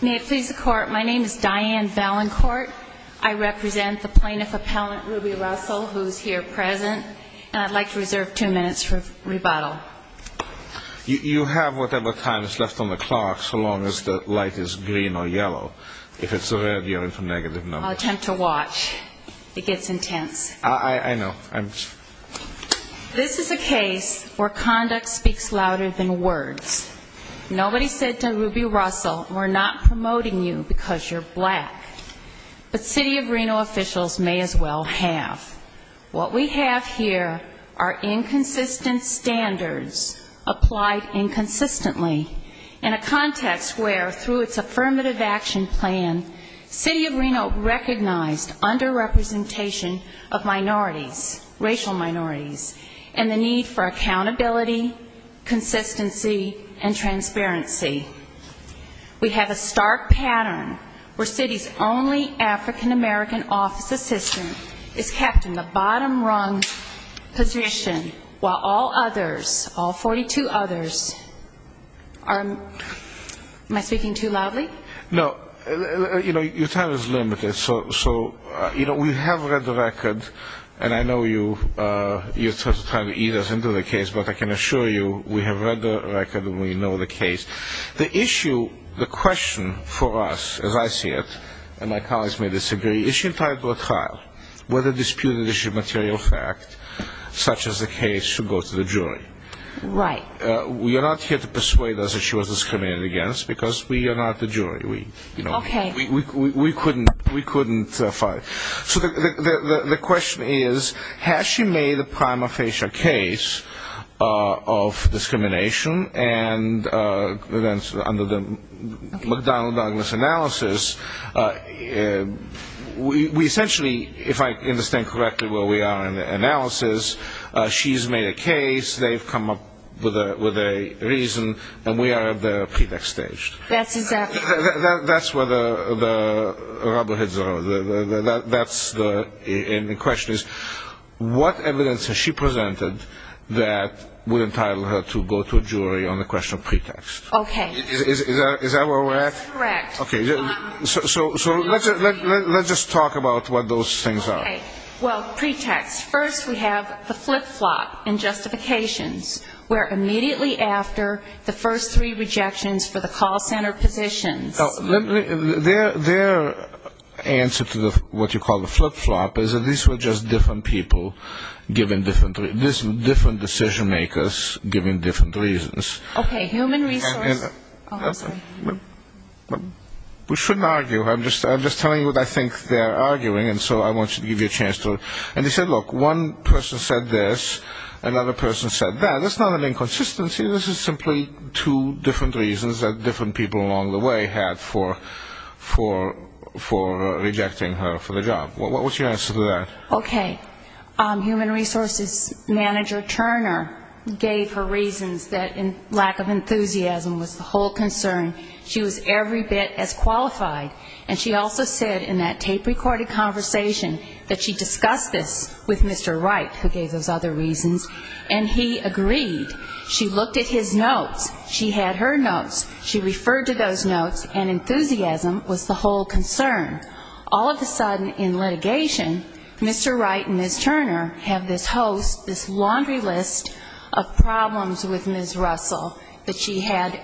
May it please the court, my name is Diane Valencourt. I represent the plaintiff appellant Ruby Russell who's here present and I'd like to reserve two minutes for rebuttal. You have whatever time is left on the clock so long as the light is green or yellow. If it's red, you're in for negative number. I'll attempt to watch. It gets intense. I know. This is a case where conduct speaks louder than words. Nobody said to Ruby Russell we're not promoting you because you're black, but City of Reno officials may as well have. What we have here are inconsistent standards applied inconsistently in a context where through its affirmative action plan, City of Reno recognized under-representation of minorities, racial minorities, and the need for accountability, consistency, and transparency. We have a stark pattern where City's only African-American office assistant is kept in the bottom rung position while all others, all 42 others, am I speaking too loudly? No, you know your time is limited so you know we have read the record and I know you you're trying to eat us into the case but I can assure you we have read the record and we know the case. The issue, the question for us as I see it, and my colleagues may disagree, is she entitled to a trial whether disputed issue material fact such as the case should go to the jury. Right. We are not here to persuade us that she was discriminated against because we are not the jury. Okay. We couldn't fight. So the question is has she made a prima facie case of discrimination and under the McDonald-Douglas analysis we essentially, if I understand correctly where we are in the analysis, she's made a case, they've come up with a reason, and we are at the pretext stage. That's where the rubber hits the road. And the question is what evidence has she presented that would entitle her to go to a jury on the question of pretext? Okay. Is that where we're at? Correct. Okay. So let's just talk about what those things are. Well pretext, first we have the flip-flop in justifications where immediately after the first three what you call the flip-flop is that these were just different people giving different, different decision-makers giving different reasons. Okay. Human resource. We shouldn't argue. I'm just telling you what I think they're arguing and so I want to give you a chance to, and they said look one person said this, another person said that. That's not an inconsistency. This is simply two different reasons that different people along the way had for rejecting her for the job. What's your answer to that? Okay. Human resources manager Turner gave her reasons that lack of enthusiasm was the whole concern. She was every bit as qualified and she also said in that tape-recorded conversation that she discussed this with Mr. Wright who gave those other reasons and he agreed. She looked at his notes. She had her notes. She referred to those notes and enthusiasm was the whole concern. All of a sudden in litigation Mr. Wright and Ms. Turner have this host, this laundry list of problems with Ms. Russell that she had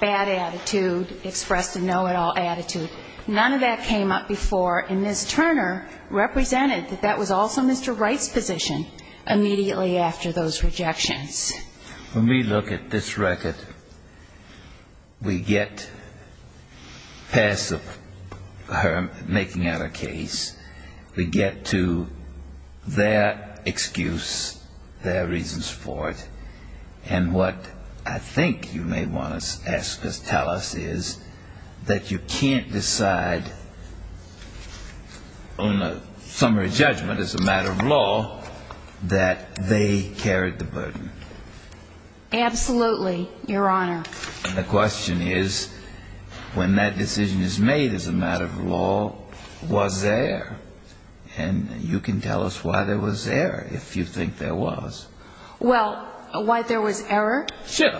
bad attitude, expressed a know-it-all attitude. None of that came up before and Ms. Turner represented that that was also Mr. Wright's position immediately after those rejections. When we look at this record, we get past her making out a case, we get to their excuse, their reasons for it, and what I think you may want to ask us, tell us is that you can't decide on a summary judgment as a matter of law that they carried the burden? Absolutely, Your Honor. And the question is when that decision is made as a matter of law, was there? And you can tell us why there was error if you think there was. Well, why there was error? Sure.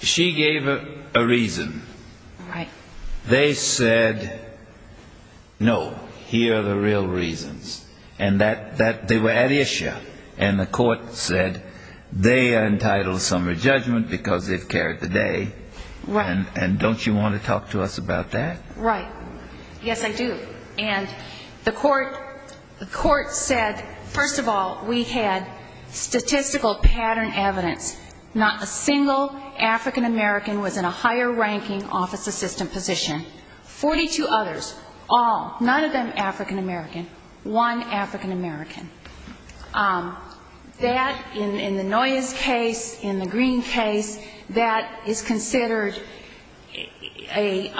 She gave a reason. They said, no, here are the real reasons. And that they were at issue. And the court said they are entitled to summary judgment because they've carried the day. And don't you want to talk to us about that? Right. Yes, I do. And the court said, first of all, we had statistical pattern evidence. Not a single African-American was in a higher ranking office assistant position. Forty-two others, all, none of them African-American, one African-American. That, in the Noyes case, in the Green case, that is considered a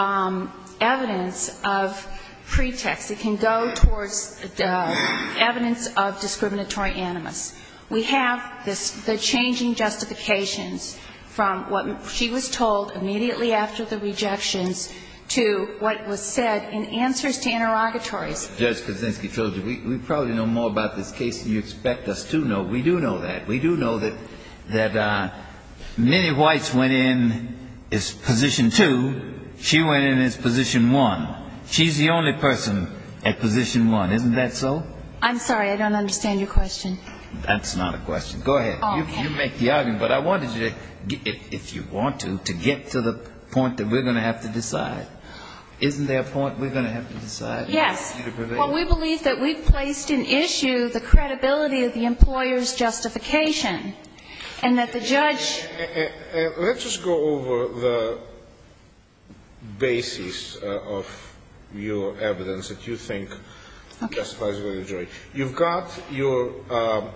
evidence of pretext. It can go towards evidence of discriminatory animus. We have the changing justifications from what she was told immediately after the rejections to what was said in answers to interrogatories. Judge Kaczynski, we probably know more about this case than you expect us to know. We do know that. We do know that Minnie Weiss went in as position two. She went in as position one. She's the only person at position one. Isn't that so? I'm sorry. I don't understand your question. That's not a question. Go ahead. You make the argument. But I wanted you, if you want to, to get to the point that we're going to have to decide. Isn't there a point we're going to have to decide? Yes. Well, we believe that we've placed in issue the credibility of the employer's justification. And that the judge... Let's just go over the basis of your evidence that you think justifies going to jury. You've got your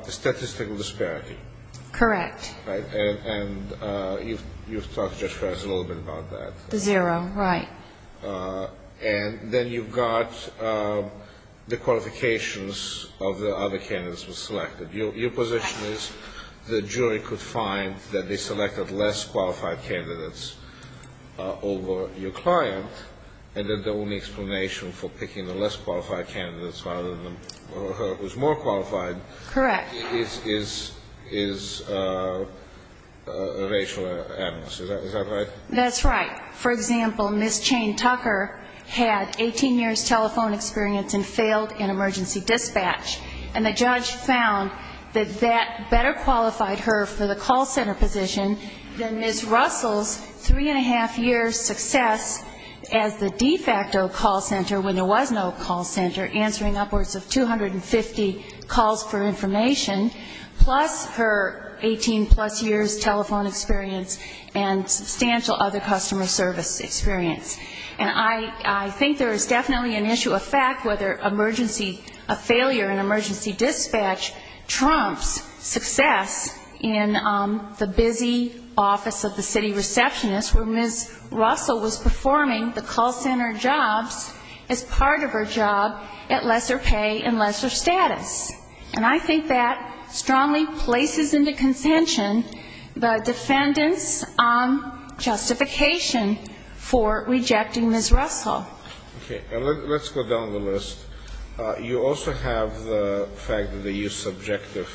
statistical disparity. Correct. And you've talked just a little bit about that. The zero, right. And then you've got the qualifications of the other candidates who were selected. Your position is the jury could find that they selected less qualified candidates over your client. And then the only explanation for picking the less qualified candidates rather than her who's more qualified... ...is that right? That's right. For example, Ms. Chayne Tucker had 18 years telephone experience and failed in emergency dispatch. And the judge found that that better qualified her for the call center position than Ms. Russell's three and a half year success as the de facto call center when there was no call center, answering upwards of 250 calls for information, plus her 18-plus years of experience. And I think there is definitely an issue of fact whether emergency failure in emergency dispatch trumps success in the busy office of the city receptionist where Ms. Russell was performing the call center jobs as part of her job at lesser pay and lesser status. And I think that strongly places into consention the fact that Ms. Russell's three and a half years of experience in emergency dispatch was not a failure. The defendants' justification for rejecting Ms. Russell. Okay. Let's go down the list. You also have the fact that they used subjective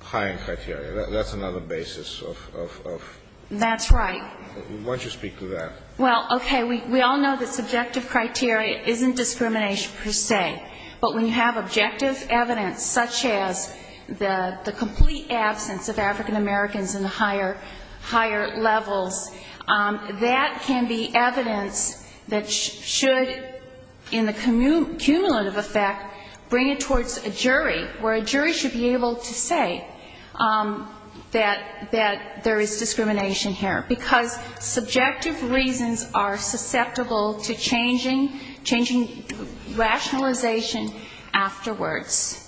hiring criteria. That's another basis of... That's right. Why don't you speak to that? Well, okay. We all know that subjective criteria isn't discrimination per se. But when you have objective evidence, such as the complete absence of African Americans in the higher levels, that can be evidence that should, in the cumulative effect, bring it towards a jury where a jury should be able to say that there is discrimination here. Because subjective reasons are susceptible to changing, changing rationalization afterwards.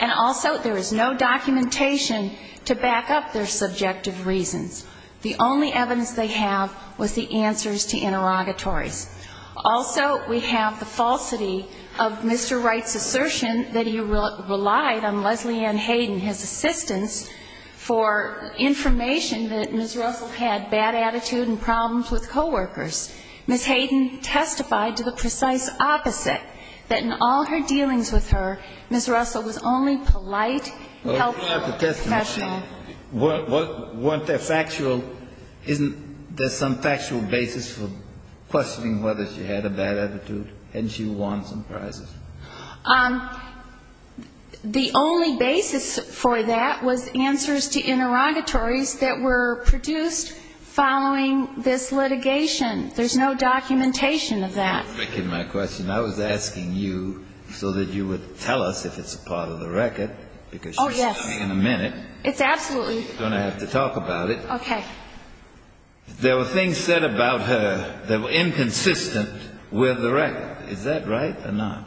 And also, there is no documentation to back up their subjective reasons. The only evidence they have was the answers to interrogatories. Also, we have the falsity of Mr. Wright's assertion that he relied on Leslie Ann Hayden, his assistant, for information that Ms. Russell did not have. And that Ms. Russell had bad attitude and problems with co-workers. Ms. Hayden testified to the precise opposite, that in all her dealings with her, Ms. Russell was only polite and helpful and professional. Wasn't there factual, isn't there some factual basis for questioning whether she had a bad attitude? Hadn't she won some prizes? The only basis for that was answers to interrogatories that were produced by Ms. Hayden. They were produced following this litigation. There's no documentation of that. I was asking you so that you would tell us if it's a part of the record, because she's coming in a minute. Oh, yes. It's absolutely. She's going to have to talk about it. Okay. There were things said about her that were inconsistent with the record. Is that right or not?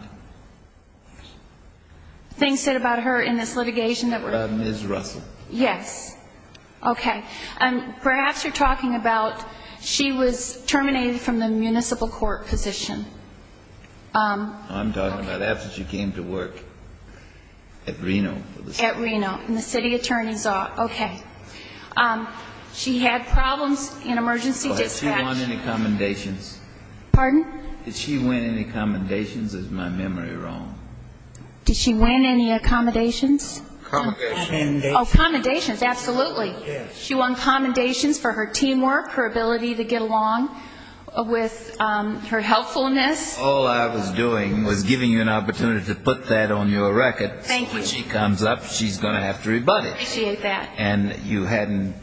Things said about her in this litigation that were... About Ms. Russell. Yes. Okay. Perhaps you're talking about she was terminated from the municipal court position. I'm talking about after she came to work at Reno. At Reno, in the city attorney's office. Okay. She had problems in emergency dispatch. Did she win any commendations? Pardon? Did she win any commendations? Is my memory wrong? Did she win any accommodations? Oh, commendations. Absolutely. She won commendations for her teamwork, her ability to get along with her helpfulness. All I was doing was giving you an opportunity to put that on your record. Thank you. When she comes up, she's going to have to rebut it. I appreciate that. And you hadn't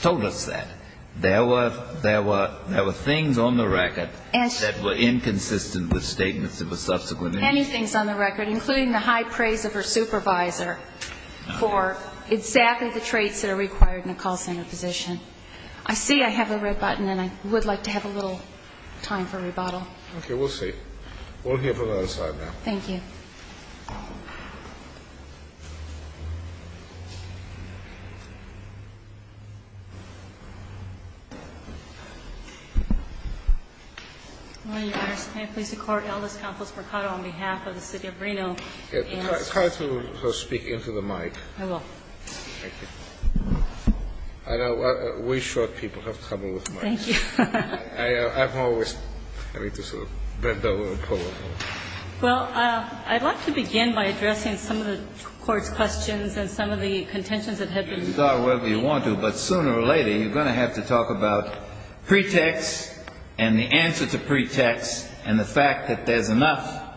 told us that. There were things on the record that were inconsistent with statements of a subsequent... Many things on the record, including the high praise of her supervisor for exactly the traits that are required in a call center position. I see I have a red button, and I would like to have a little time for rebuttal. Okay. We'll see. We'll hear from the other side now. Thank you. Your Honor, may I please record Aldous Campos Mercado on behalf of the City of Reno. It's hard to speak into the mic. I will. Thank you. We short people have trouble with mics. Thank you. I'm always having to sort of bend over and pull over. Well, I'd like to begin by addressing some of the Court's questions and some of the contentions that have been raised. You can start wherever you want to, but sooner or later, you're going to have to talk about pretext and the answer to pretext and the fact that there's enough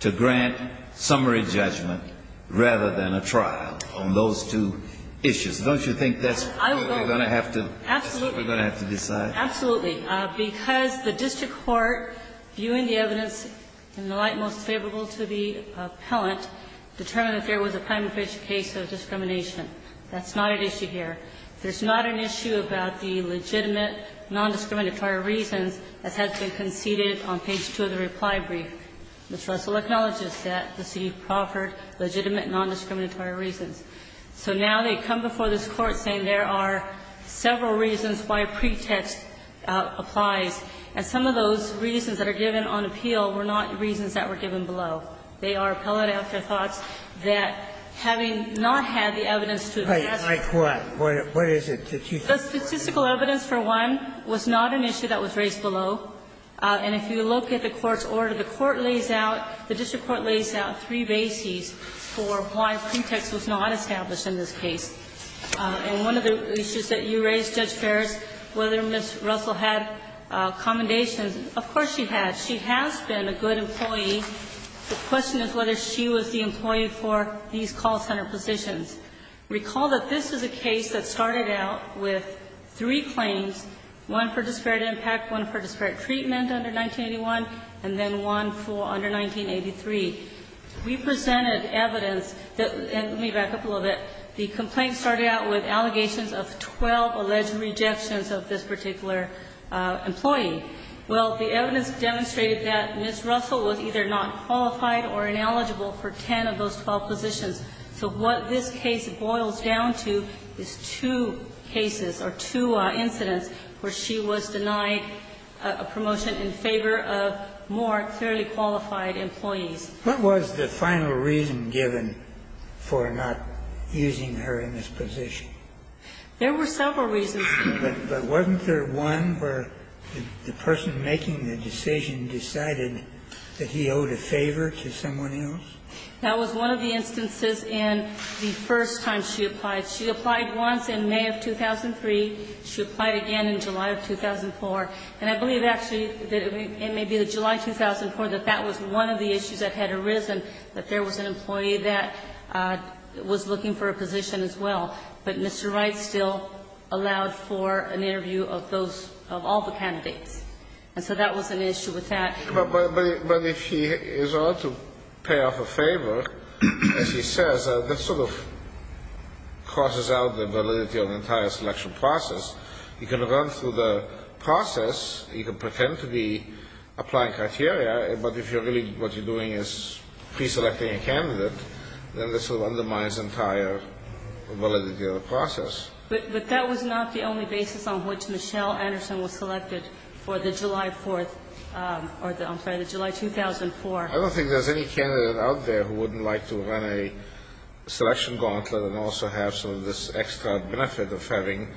to grant summary judgment rather than a trial on those two issues. Don't you think that's what we're going to have to decide? Absolutely. Because the district court, viewing the evidence in the light most favorable to the appellant, determined that there was a primary case of discrimination. That's not an issue here. There's not an issue about the legitimate, non-discriminatory reasons that have been conceded on page 2 of the reply brief. The trust will acknowledge that the city proffered legitimate, non-discriminatory reasons. So now they come before this Court saying there are several reasons why pretext applies. And some of those reasons that are given on appeal were not reasons that were given below. They are appellate afterthoughts that, having not had the evidence to assess. Like what? What is it that you think? The statistical evidence, for one, was not an issue that was raised below. And if you look at the court's order, the court lays out, the district court lays out three bases for why pretext was not established in this case. And one of the issues that you raised, Judge Ferris, whether Ms. Russell had commendations. Of course she had. She has been a good employee. The question is whether she was the employee for these call center positions. Recall that this is a case that started out with three claims. One for disparate impact. One for disparate treatment under 1981. And then one for under 1983. We presented evidence that, and let me back up a little bit. The complaint started out with allegations of 12 alleged rejections of this particular employee. Well, the evidence demonstrated that Ms. Russell was either not qualified or ineligible for 10 of those 12 positions. So what this case boils down to is two cases or two incidents where she was denied a promotion in favor of more clearly qualified employees. What was the final reason given for not using her in this position? There were several reasons. But wasn't there one where the person making the decision decided that he owed a favor to someone else? That was one of the instances in the first time she applied. She applied once in May of 2003. She applied again in July of 2004. And I believe actually that it may be July 2004 that that was one of the issues that had arisen, that there was an employee that was looking for a position as well. But Mr. Wright still allowed for an interview of those, of all the candidates. And so that was an issue with that. But if she is allowed to pay off a favor, as he says, that sort of crosses out the validity of the entire selection process. You can run through the process. You can pretend to be applying criteria. But if you're really, what you're doing is preselecting a candidate, then this will undermine his entire validity of the process. But that was not the only basis on which Michelle Anderson was selected for the July 4th or the, I'm sorry, the July 2004. I don't think there's any candidate out there who wouldn't like to run a selection gauntlet and also have some of this extra benefit of having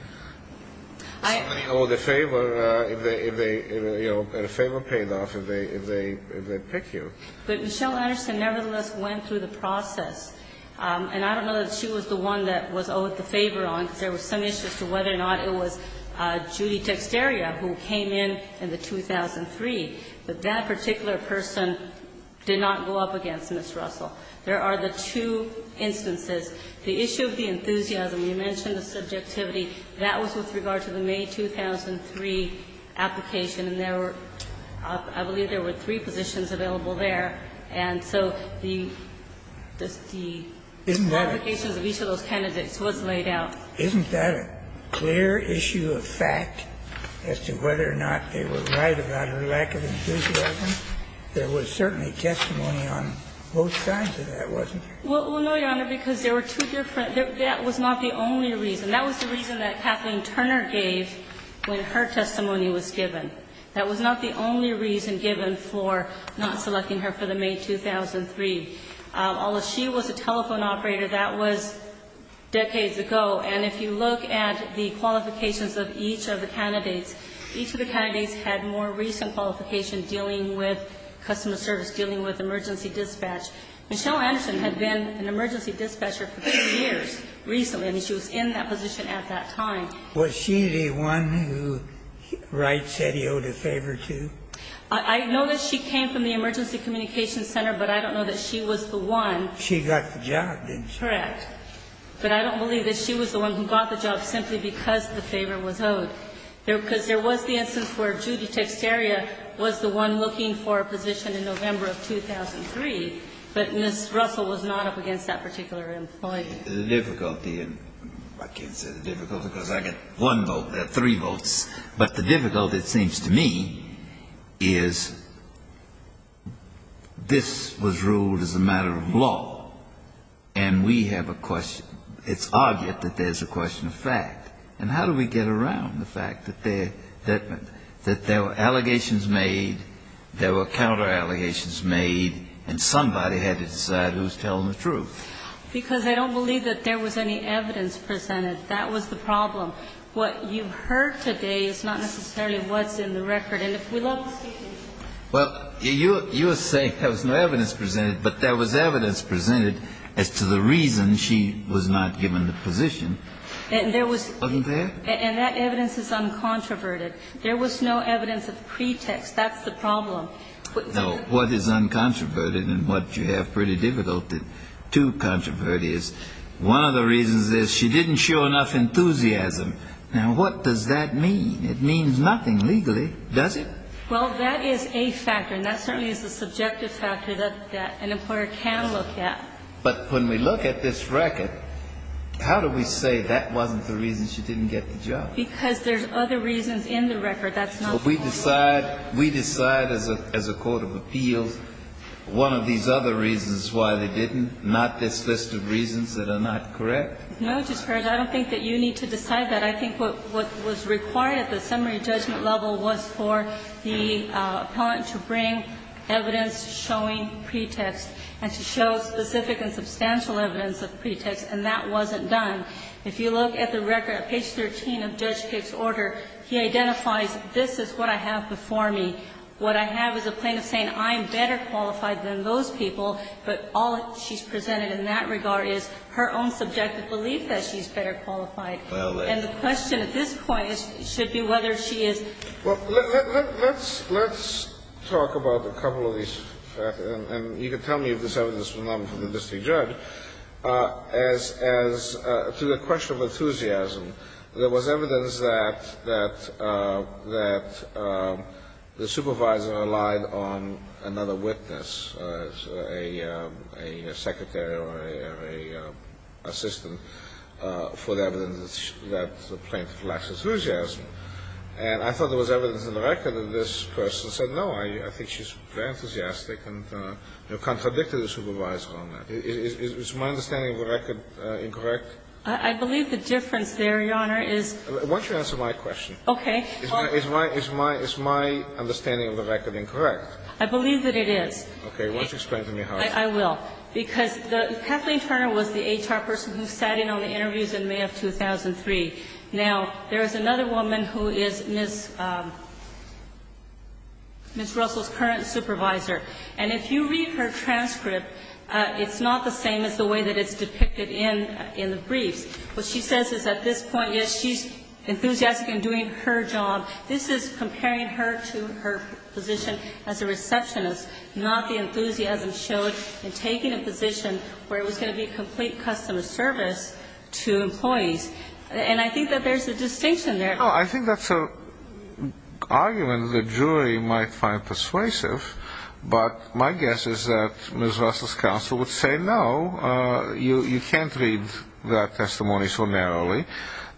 someone owe the favor if they, you know, a favor paid off if they pick you. But Michelle Anderson nevertheless went through the process. And I don't know that she was the one that was owed the favor on, because there was some issue as to whether or not it was Judy Dexteria who came in in the 2003. But that particular person did not go up against Ms. Russell. There are the two instances. The issue of the enthusiasm, you mentioned the subjectivity. That was with regard to the May 2003 application. And there were, I believe there were three positions available there. And so the qualifications of each of those candidates was laid out. Isn't that a clear issue of fact as to whether or not they were right about her lack of enthusiasm? There was certainly testimony on both sides of that, wasn't there? Well, no, Your Honor, because there were two different. That was not the only reason. That was the reason that Kathleen Turner gave when her testimony was given. That was not the only reason given for not selecting her for the May 2003. Although she was a telephone operator, that was decades ago. And if you look at the qualifications of each of the candidates, each of the candidates had more recent qualifications dealing with customer service, dealing with emergency dispatch. Michelle Anderson had been an emergency dispatcher for two years recently. I mean, she was in that position at that time. Was she the one who Wright said he owed a favor to? I know that she came from the Emergency Communications Center, but I don't know that she was the one. She got the job, didn't she? Correct. But I don't believe that she was the one who got the job simply because the favor was owed. Because there was the instance where Judy Texteria was the one looking for a position in November of 2003, but Ms. Russell was not up against that particular employee. I can't say the difficulty, because I get one vote. There are three votes. But the difficulty, it seems to me, is this was ruled as a matter of law, and we have a question. It's obvious that there's a question of fact. And how do we get around the fact that there were allegations made, there were counter allegations made, and somebody had to decide who was telling the truth? Because I don't believe that there was any evidence presented. That was the problem. What you heard today is not necessarily what's in the record. And if we look at the statement. Well, you're saying there was no evidence presented, but there was evidence presented as to the reason she was not given the position. And there was. Wasn't there? And that evidence is uncontroverted. There was no evidence of pretext. That's the problem. No. What is uncontroverted and what you have pretty difficult to controvert is one of the reasons is she didn't show enough enthusiasm. Now, what does that mean? It means nothing legally, does it? Well, that is a factor. And that certainly is a subjective factor that an employer can look at. But when we look at this record, how do we say that wasn't the reason she didn't get the job? Because there's other reasons in the record. Well, we decide, we decide as a court of appeals one of these other reasons why they didn't, not this list of reasons that are not correct. No, Justice Ginsburg. I don't think that you need to decide that. I think what was required at the summary judgment level was for the appellant to bring evidence showing pretext and to show specific and substantial evidence of pretext. And that wasn't done. If you look at the record at page 13 of Judge Pick's order, he identifies this is what I have before me. What I have is a plaintiff saying I'm better qualified than those people, but all she's presented in that regard is her own subjective belief that she's better qualified. And the question at this point should be whether she is. Well, let's talk about a couple of these. And you can tell me if this evidence is from the district judge. As to the question of enthusiasm, there was evidence that the supervisor relied on another witness, a secretary or an assistant, for the evidence that the plaintiff lacks enthusiasm. And I thought there was evidence in the record that this person said, I don't know. I think she's very enthusiastic and contradicted the supervisor on that. Is my understanding of the record incorrect? I believe the difference there, Your Honor, is. Why don't you answer my question? Okay. Is my understanding of the record incorrect? I believe that it is. Okay. Why don't you explain to me how it is? I will. Because Kathleen Turner was the HR person who sat in on the interviews in May of 2003. Now, there is another woman who is Ms. Russell's current supervisor. And if you read her transcript, it's not the same as the way that it's depicted in the briefs. What she says is at this point, yes, she's enthusiastic in doing her job. This is comparing her to her position as a receptionist, not the enthusiasm shown in taking a position where it was going to be complete customer service to employees. And I think that there's a distinction there. I think that's an argument the jury might find persuasive. But my guess is that Ms. Russell's counsel would say, no, you can't read that testimony so narrowly,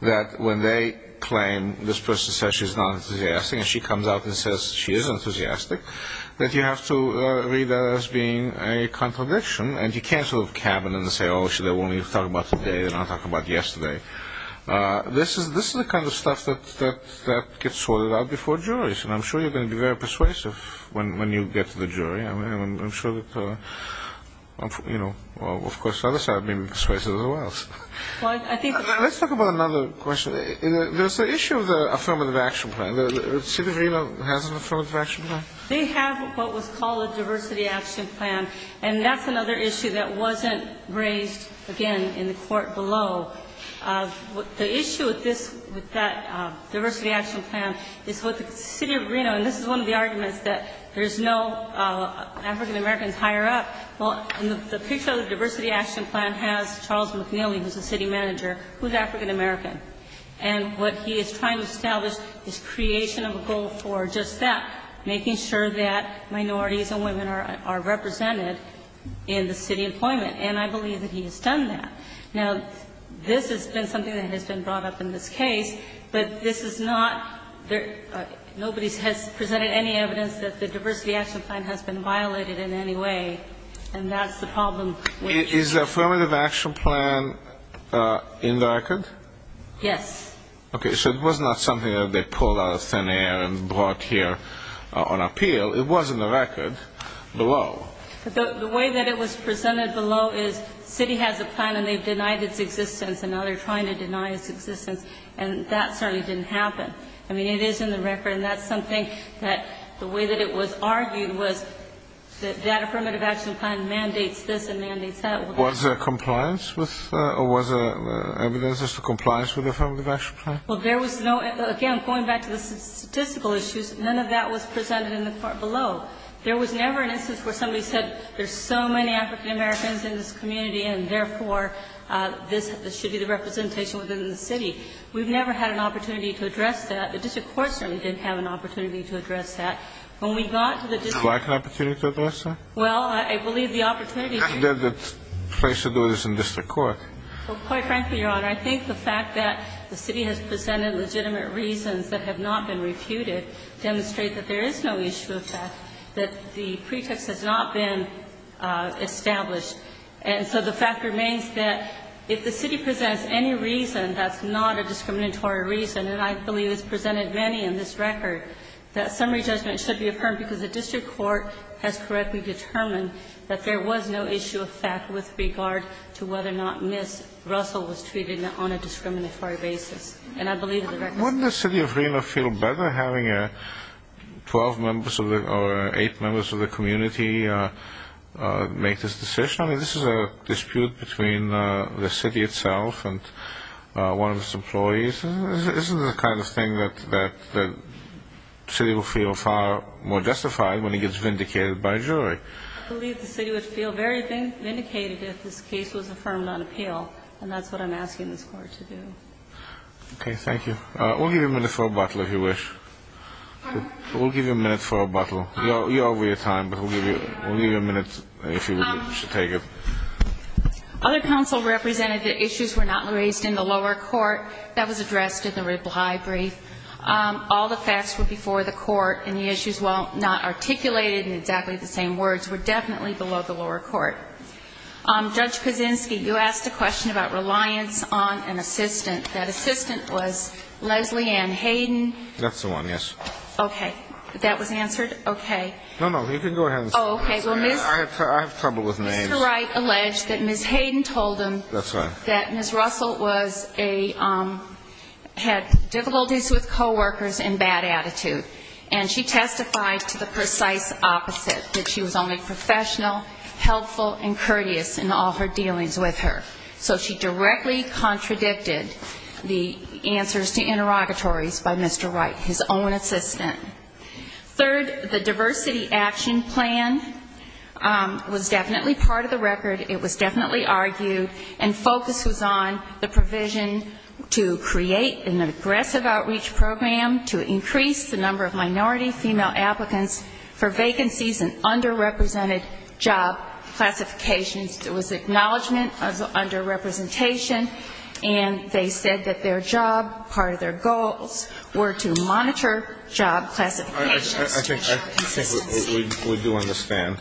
that when they claim this person says she's not enthusiastic and she comes out and says she is enthusiastic, that you have to read that as being a contradiction. And you can't sort of cabin and say, oh, she's only talking about today. They're not talking about yesterday. This is the kind of stuff that gets sorted out before juries. And I'm sure you're going to be very persuasive when you get to the jury. I'm sure that, you know, of course, the other side will be persuasive as well. Let's talk about another question. There's the issue of the affirmative action plan. The City of Reno has an affirmative action plan? They have what was called a diversity action plan. And that's another issue that wasn't raised, again, in the court below. The issue with this, with that diversity action plan is with the City of Reno, and this is one of the arguments that there's no African-Americans higher up. Well, the picture of the diversity action plan has Charles McNeely, who's the city manager, who's African-American. And what he is trying to establish is creation of a goal for just that, making sure that minorities and women are represented in the city employment. And I believe that he has done that. Now, this has been something that has been brought up in this case, but this is not the – nobody has presented any evidence that the diversity action plan has been violated in any way, and that's the problem. Is the affirmative action plan in the record? Yes. Okay. So it was not something that they pulled out of thin air and brought here on appeal. It was in the record below. The way that it was presented below is City has a plan, and they've denied its existence, and now they're trying to deny its existence, and that certainly didn't happen. I mean, it is in the record, and that's something that the way that it was argued was that that affirmative action plan mandates this and mandates that. Was there compliance with – or was there evidence as to compliance with the affirmative action plan? Well, there was no – again, going back to the statistical issues, none of that was presented in the court below. There was never an instance where somebody said there's so many African-Americans in this community, and therefore, this should be the representation within the city. We've never had an opportunity to address that. The district court certainly didn't have an opportunity to address that. When we got to the district court – Do I have an opportunity to address that? Well, I believe the opportunity – I've never been placed to do this in district court. Well, quite frankly, Your Honor, I think the fact that the City has presented legitimate reasons that have not been refuted demonstrate that there is no issue with that, that the pretext has not been established. And so the fact remains that if the City presents any reason that's not a discriminatory reason, and I believe it's presented many in this record, that summary judgment should be affirmed because the district court has correctly determined that there was no issue of fact with regard to whether or not Ms. Russell was treated on a discriminatory basis. And I believe the record – Wouldn't the City of Reno feel better having 12 members or eight members of the community make this decision? Your Honor, this is a dispute between the City itself and one of its employees. Isn't it the kind of thing that the City will feel far more justified when it gets vindicated by a jury? I believe the City would feel very vindicated if this case was affirmed on appeal, and that's what I'm asking this Court to do. Okay, thank you. We'll give you a minute for a bottle, if you wish. We'll give you a minute for a bottle. You're over your time, but we'll give you a minute if you wish to take it. Other counsel represented that issues were not raised in the lower court. That was addressed in the reply brief. All the facts were before the court, and the issues, while not articulated in exactly the same words, were definitely below the lower court. Judge Kaczynski, you asked a question about reliance on an assistant. That assistant was Leslie Ann Hayden. That's the one, yes. Okay. That was answered? Okay. No, no, you can go ahead. Oh, okay. I have trouble with names. Mr. Wright alleged that Ms. Hayden told him that Ms. Russell had difficulties with coworkers and bad attitude, and she testified to the precise opposite, that she was only professional, helpful, and courteous in all her dealings with her. So she directly contradicted the answers to interrogatories by Mr. Wright, his own assistant. Third, the diversity action plan was definitely part of the record. It was definitely argued, and focus was on the provision to create an aggressive outreach program to increase the number of minority female applicants for vacancies in underrepresented job classifications. It was acknowledgment of underrepresentation, and they said that their job, part of their goals, were to monitor job classifications. I think we do understand.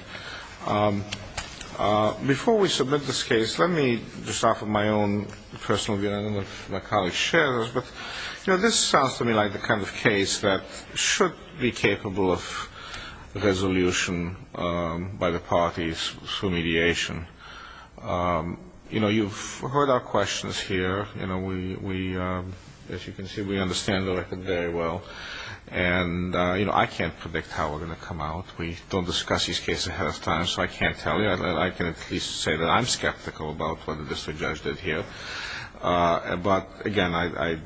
Before we submit this case, let me just offer my own personal view. I don't know if my colleagues share this, but, you know, this sounds to me like the kind of case that should be capable of resolution by the parties for mediation. You know, you've heard our questions here. You know, we, as you can see, we understand the record very well. And, you know, I can't predict how we're going to come out. We don't discuss these cases ahead of time, so I can't tell you. I can at least say that I'm skeptical about what the district judge did here. But, again, I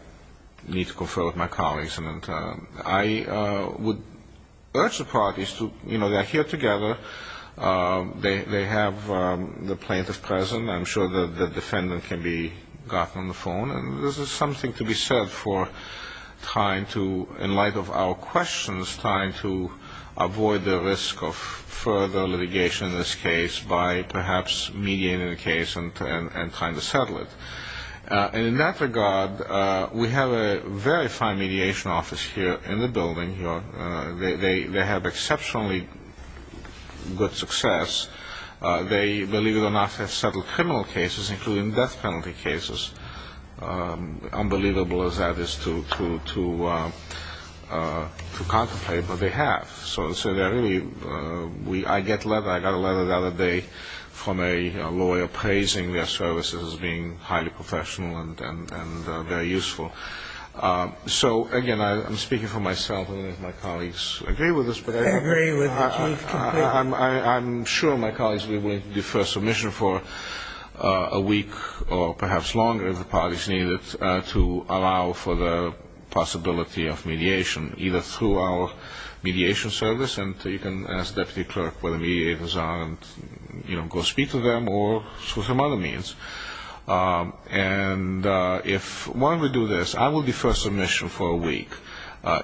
need to confer with my colleagues. And I would urge the parties to, you know, they're here together. They have the plaintiff present. I'm sure that the defendant can be gotten on the phone. And this is something to be said for trying to, in light of our questions, trying to avoid the risk of further litigation in this case by perhaps mediating the case and trying to settle it. And in that regard, we have a very fine mediation office here in the building. They have exceptionally good success. They, believe it or not, have settled criminal cases, including death penalty cases. Unbelievable as that is to contemplate, but they have. So, really, I got a letter the other day from a lawyer praising their services as being highly professional and very useful. So, again, I'm speaking for myself. I don't know if my colleagues agree with this. I agree with you completely. I'm sure my colleagues will be willing to defer submission for a week or perhaps longer if the parties need it to allow for the possibility of mediation, either through our mediation service, and you can ask the deputy clerk where the mediators are and, you know, go speak to them or through some other means. And if one would do this, I will defer submission for a week.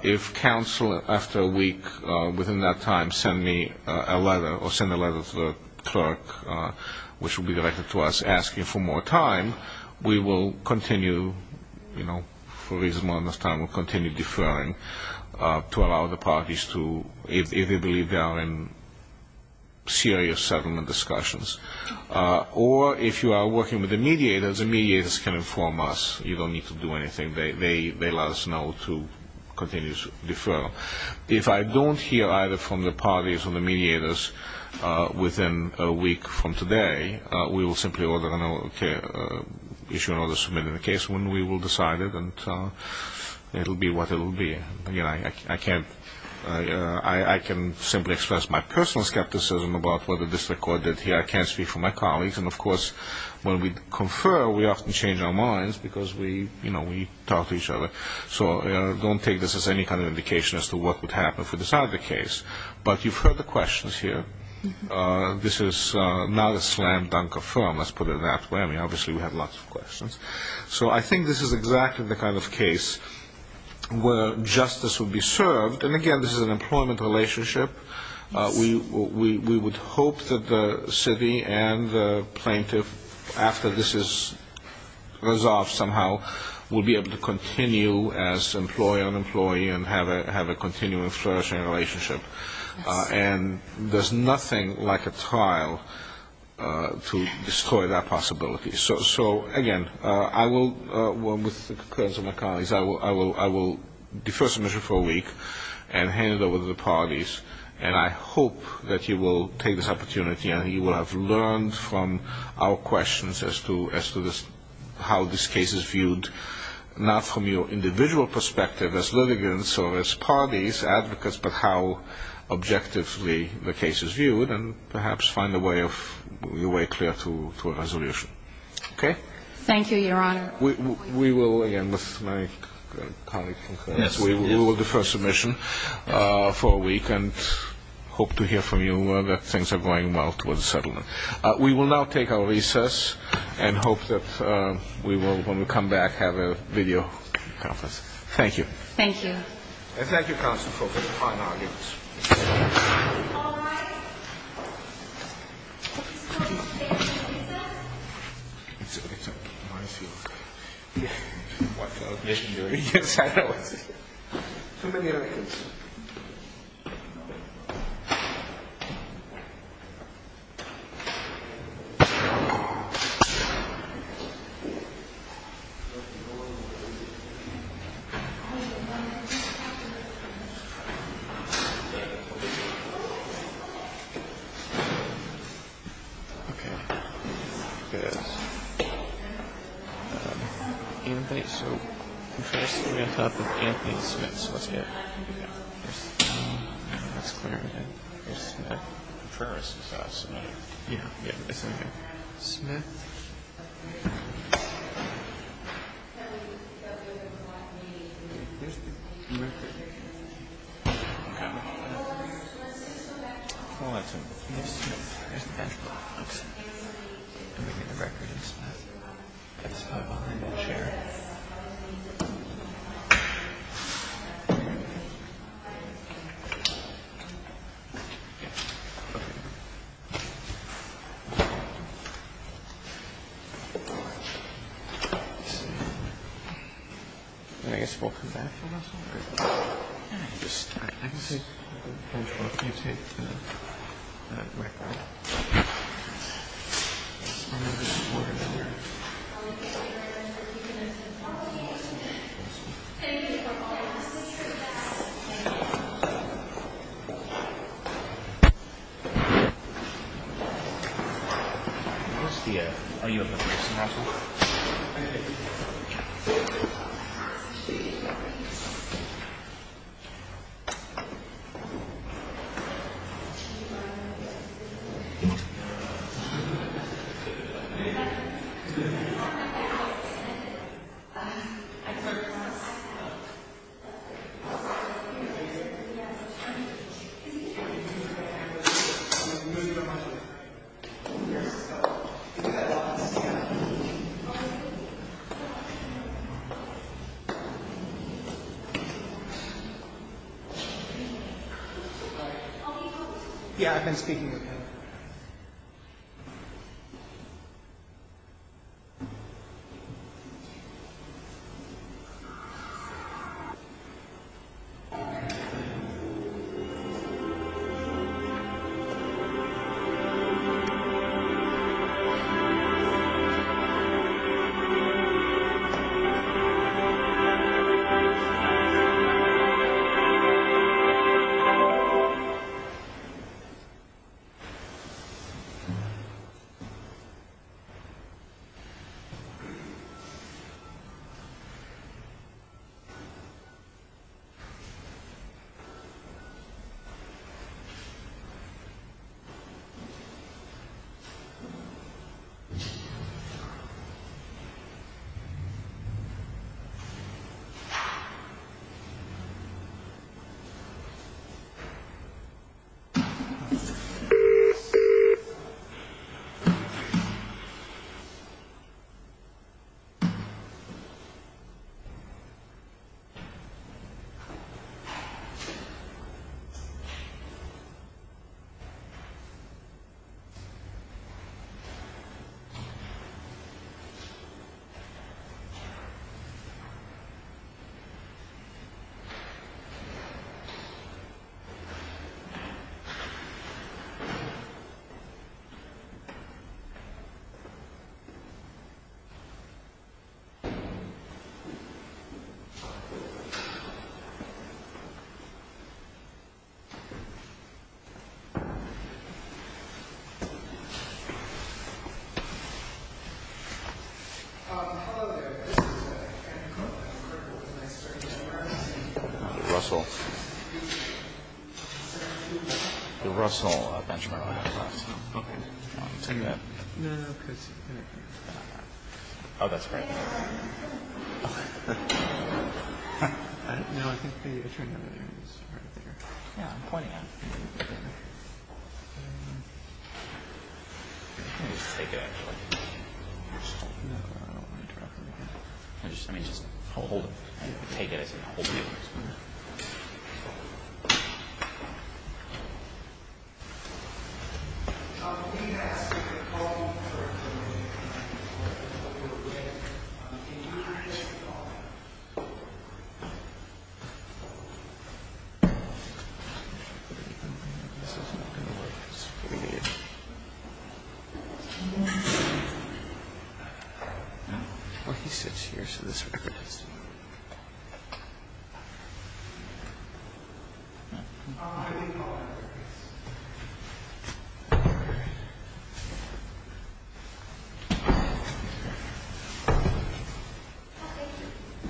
If counsel, after a week, within that time, send me a letter or send a letter to the clerk, which will be directed to us asking for more time, we will continue, you know, for a reasonable amount of time, we'll continue deferring to allow the parties to, if they believe they are in serious settlement discussions. Or if you are working with the mediators, the mediators can inform us. You don't need to do anything. They let us know to continue to defer. If I don't hear either from the parties or the mediators within a week from today, we will simply issue an order submitting the case when we will decide it, and it will be what it will be. I can't – I can simply express my personal skepticism about what the district court did here. I can't speak for my colleagues. And, of course, when we confer, we often change our minds because we, you know, we talk to each other. So don't take this as any kind of indication as to what would happen if we decide the case. But you've heard the questions here. This is not a slam dunk of firm, let's put it that way. I mean, obviously we have lots of questions. So I think this is exactly the kind of case where justice will be served. And, again, this is an employment relationship. We would hope that the city and the plaintiff, after this is resolved somehow, will be able to continue as employee-on-employee and have a continuing, flourishing relationship. And there's nothing like a trial to destroy that possibility. So, again, I will, with the concurrence of my colleagues, I will defer submission for a week and hand it over to the parties. And I hope that you will take this opportunity and you will have learned from our questions as to how this case is viewed, not from your individual perspective as litigants or as parties, advocates, but how objectively the case is viewed and perhaps find a way of – a way clear to a resolution. Okay? Thank you, Your Honor. We will, again, with my colleagues, we will defer submission for a week and hope to hear from you that things are going well towards settlement. We will now take our recess and hope that we will, when we come back, have a video conference. Thank you. Thank you. And thank you, counsel, for the fine arguments. All rise. This court is adjourned. Recess. Okay. Good. Anthony? So, first, we have Anthony Smith. So let's get – let's clear that. There's Smith. First, I'll submit it. Yeah, yeah. Okay. Okay. Okay. Okay. Okay. Okay. Okay. Okay. Okay. Okay. Okay. Okay. Okay. Okay. All right. Here's the back box and we need the records for that. It's over on the chair. And I guess we'll come back for this one? I just... I can see... I can hold for a few seconds. And I'll be right back. Where's the... Oh, you have the person at all? I do. Can you do it? I just... I guess it's over here? Yeah, of... Is he here? I can move my hand on his way, there's a, put that... There's... I'm on the chair one more time just in case. Yeah, I've been speaking with him. Okay. Okay. Okay. Russell. The Russell benchmark. Okay. Take that. No, no, because... Oh, that's great. Okay. No, I think the... Yeah, I'm pointing at him. You can just take it, actually. No, I don't want to interrupt him again. I mean, just hold it. Take it as a whole view. Okay. Oh, he sits here, so this way. Oh, I think... Oh, thank you.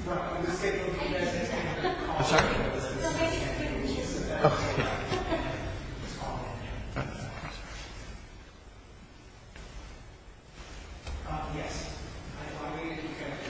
No, I'm just taking a few minutes. I'm sorry? No, I just took a few minutes. Oh, okay. Yes. I thought maybe you could... Okay. Thank you. Russell, can you hold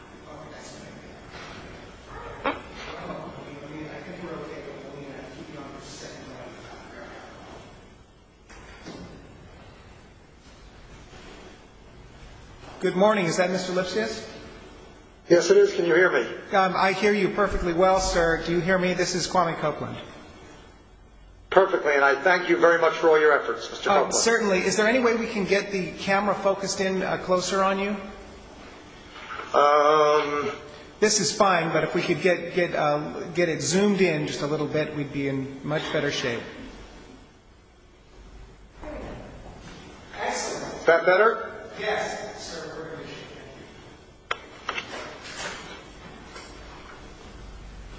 that? Okay. Okay, I see you. Sorry to interrupt. How are you doing? Should be established. Just a second. Okay. Good morning. Is that Mr. Lipsius? Yes, it is. Can you hear me? I hear you perfectly well, sir. Do you hear me? This is Kwame Copeland. Perfectly, and I thank you very much for all your efforts, Mr. Copeland. Certainly. Is there any way we can get the camera focused in closer on you? This is fine, but if we could get it zoomed in just a little bit, we'd be in much better shape. Excellent. Is that better? Yes, sir.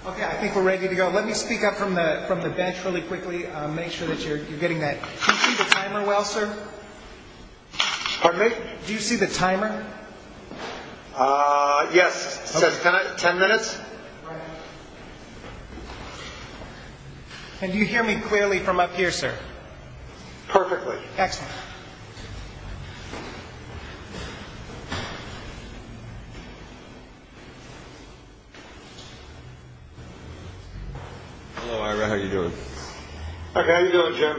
Okay, I think we're ready to go. Let me speak up from the bench really quickly, make sure that you're getting that... Do you see the timer well, sir? Pardon me? Do you see the timer? Yes. It says ten minutes. Right on. Can you hear me clearly from up here, sir? Perfectly. Excellent. Thank you. Hello, Ira. How are you doing? Okay, how are you doing, Jim? Good. Thank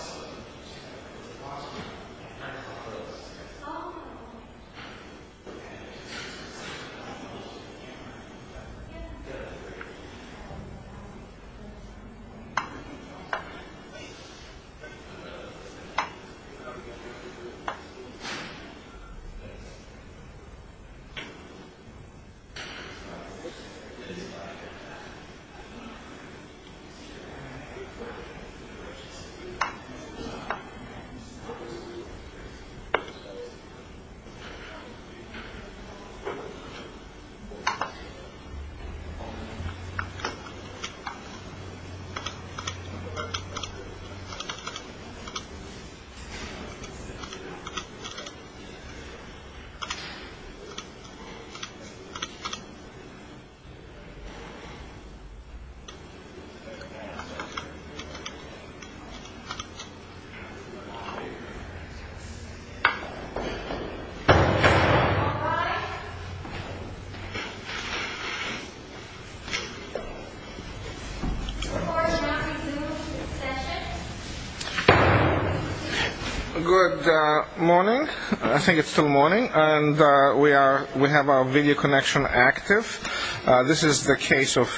you. How are you doing? Good. Thank you. Try this. Okay. Yeah. Yeah. Oh. Yeah. Okay. Okay. All right. Yeah. Good morning. I think it's still morning, and we have our video connection active. This is the case of...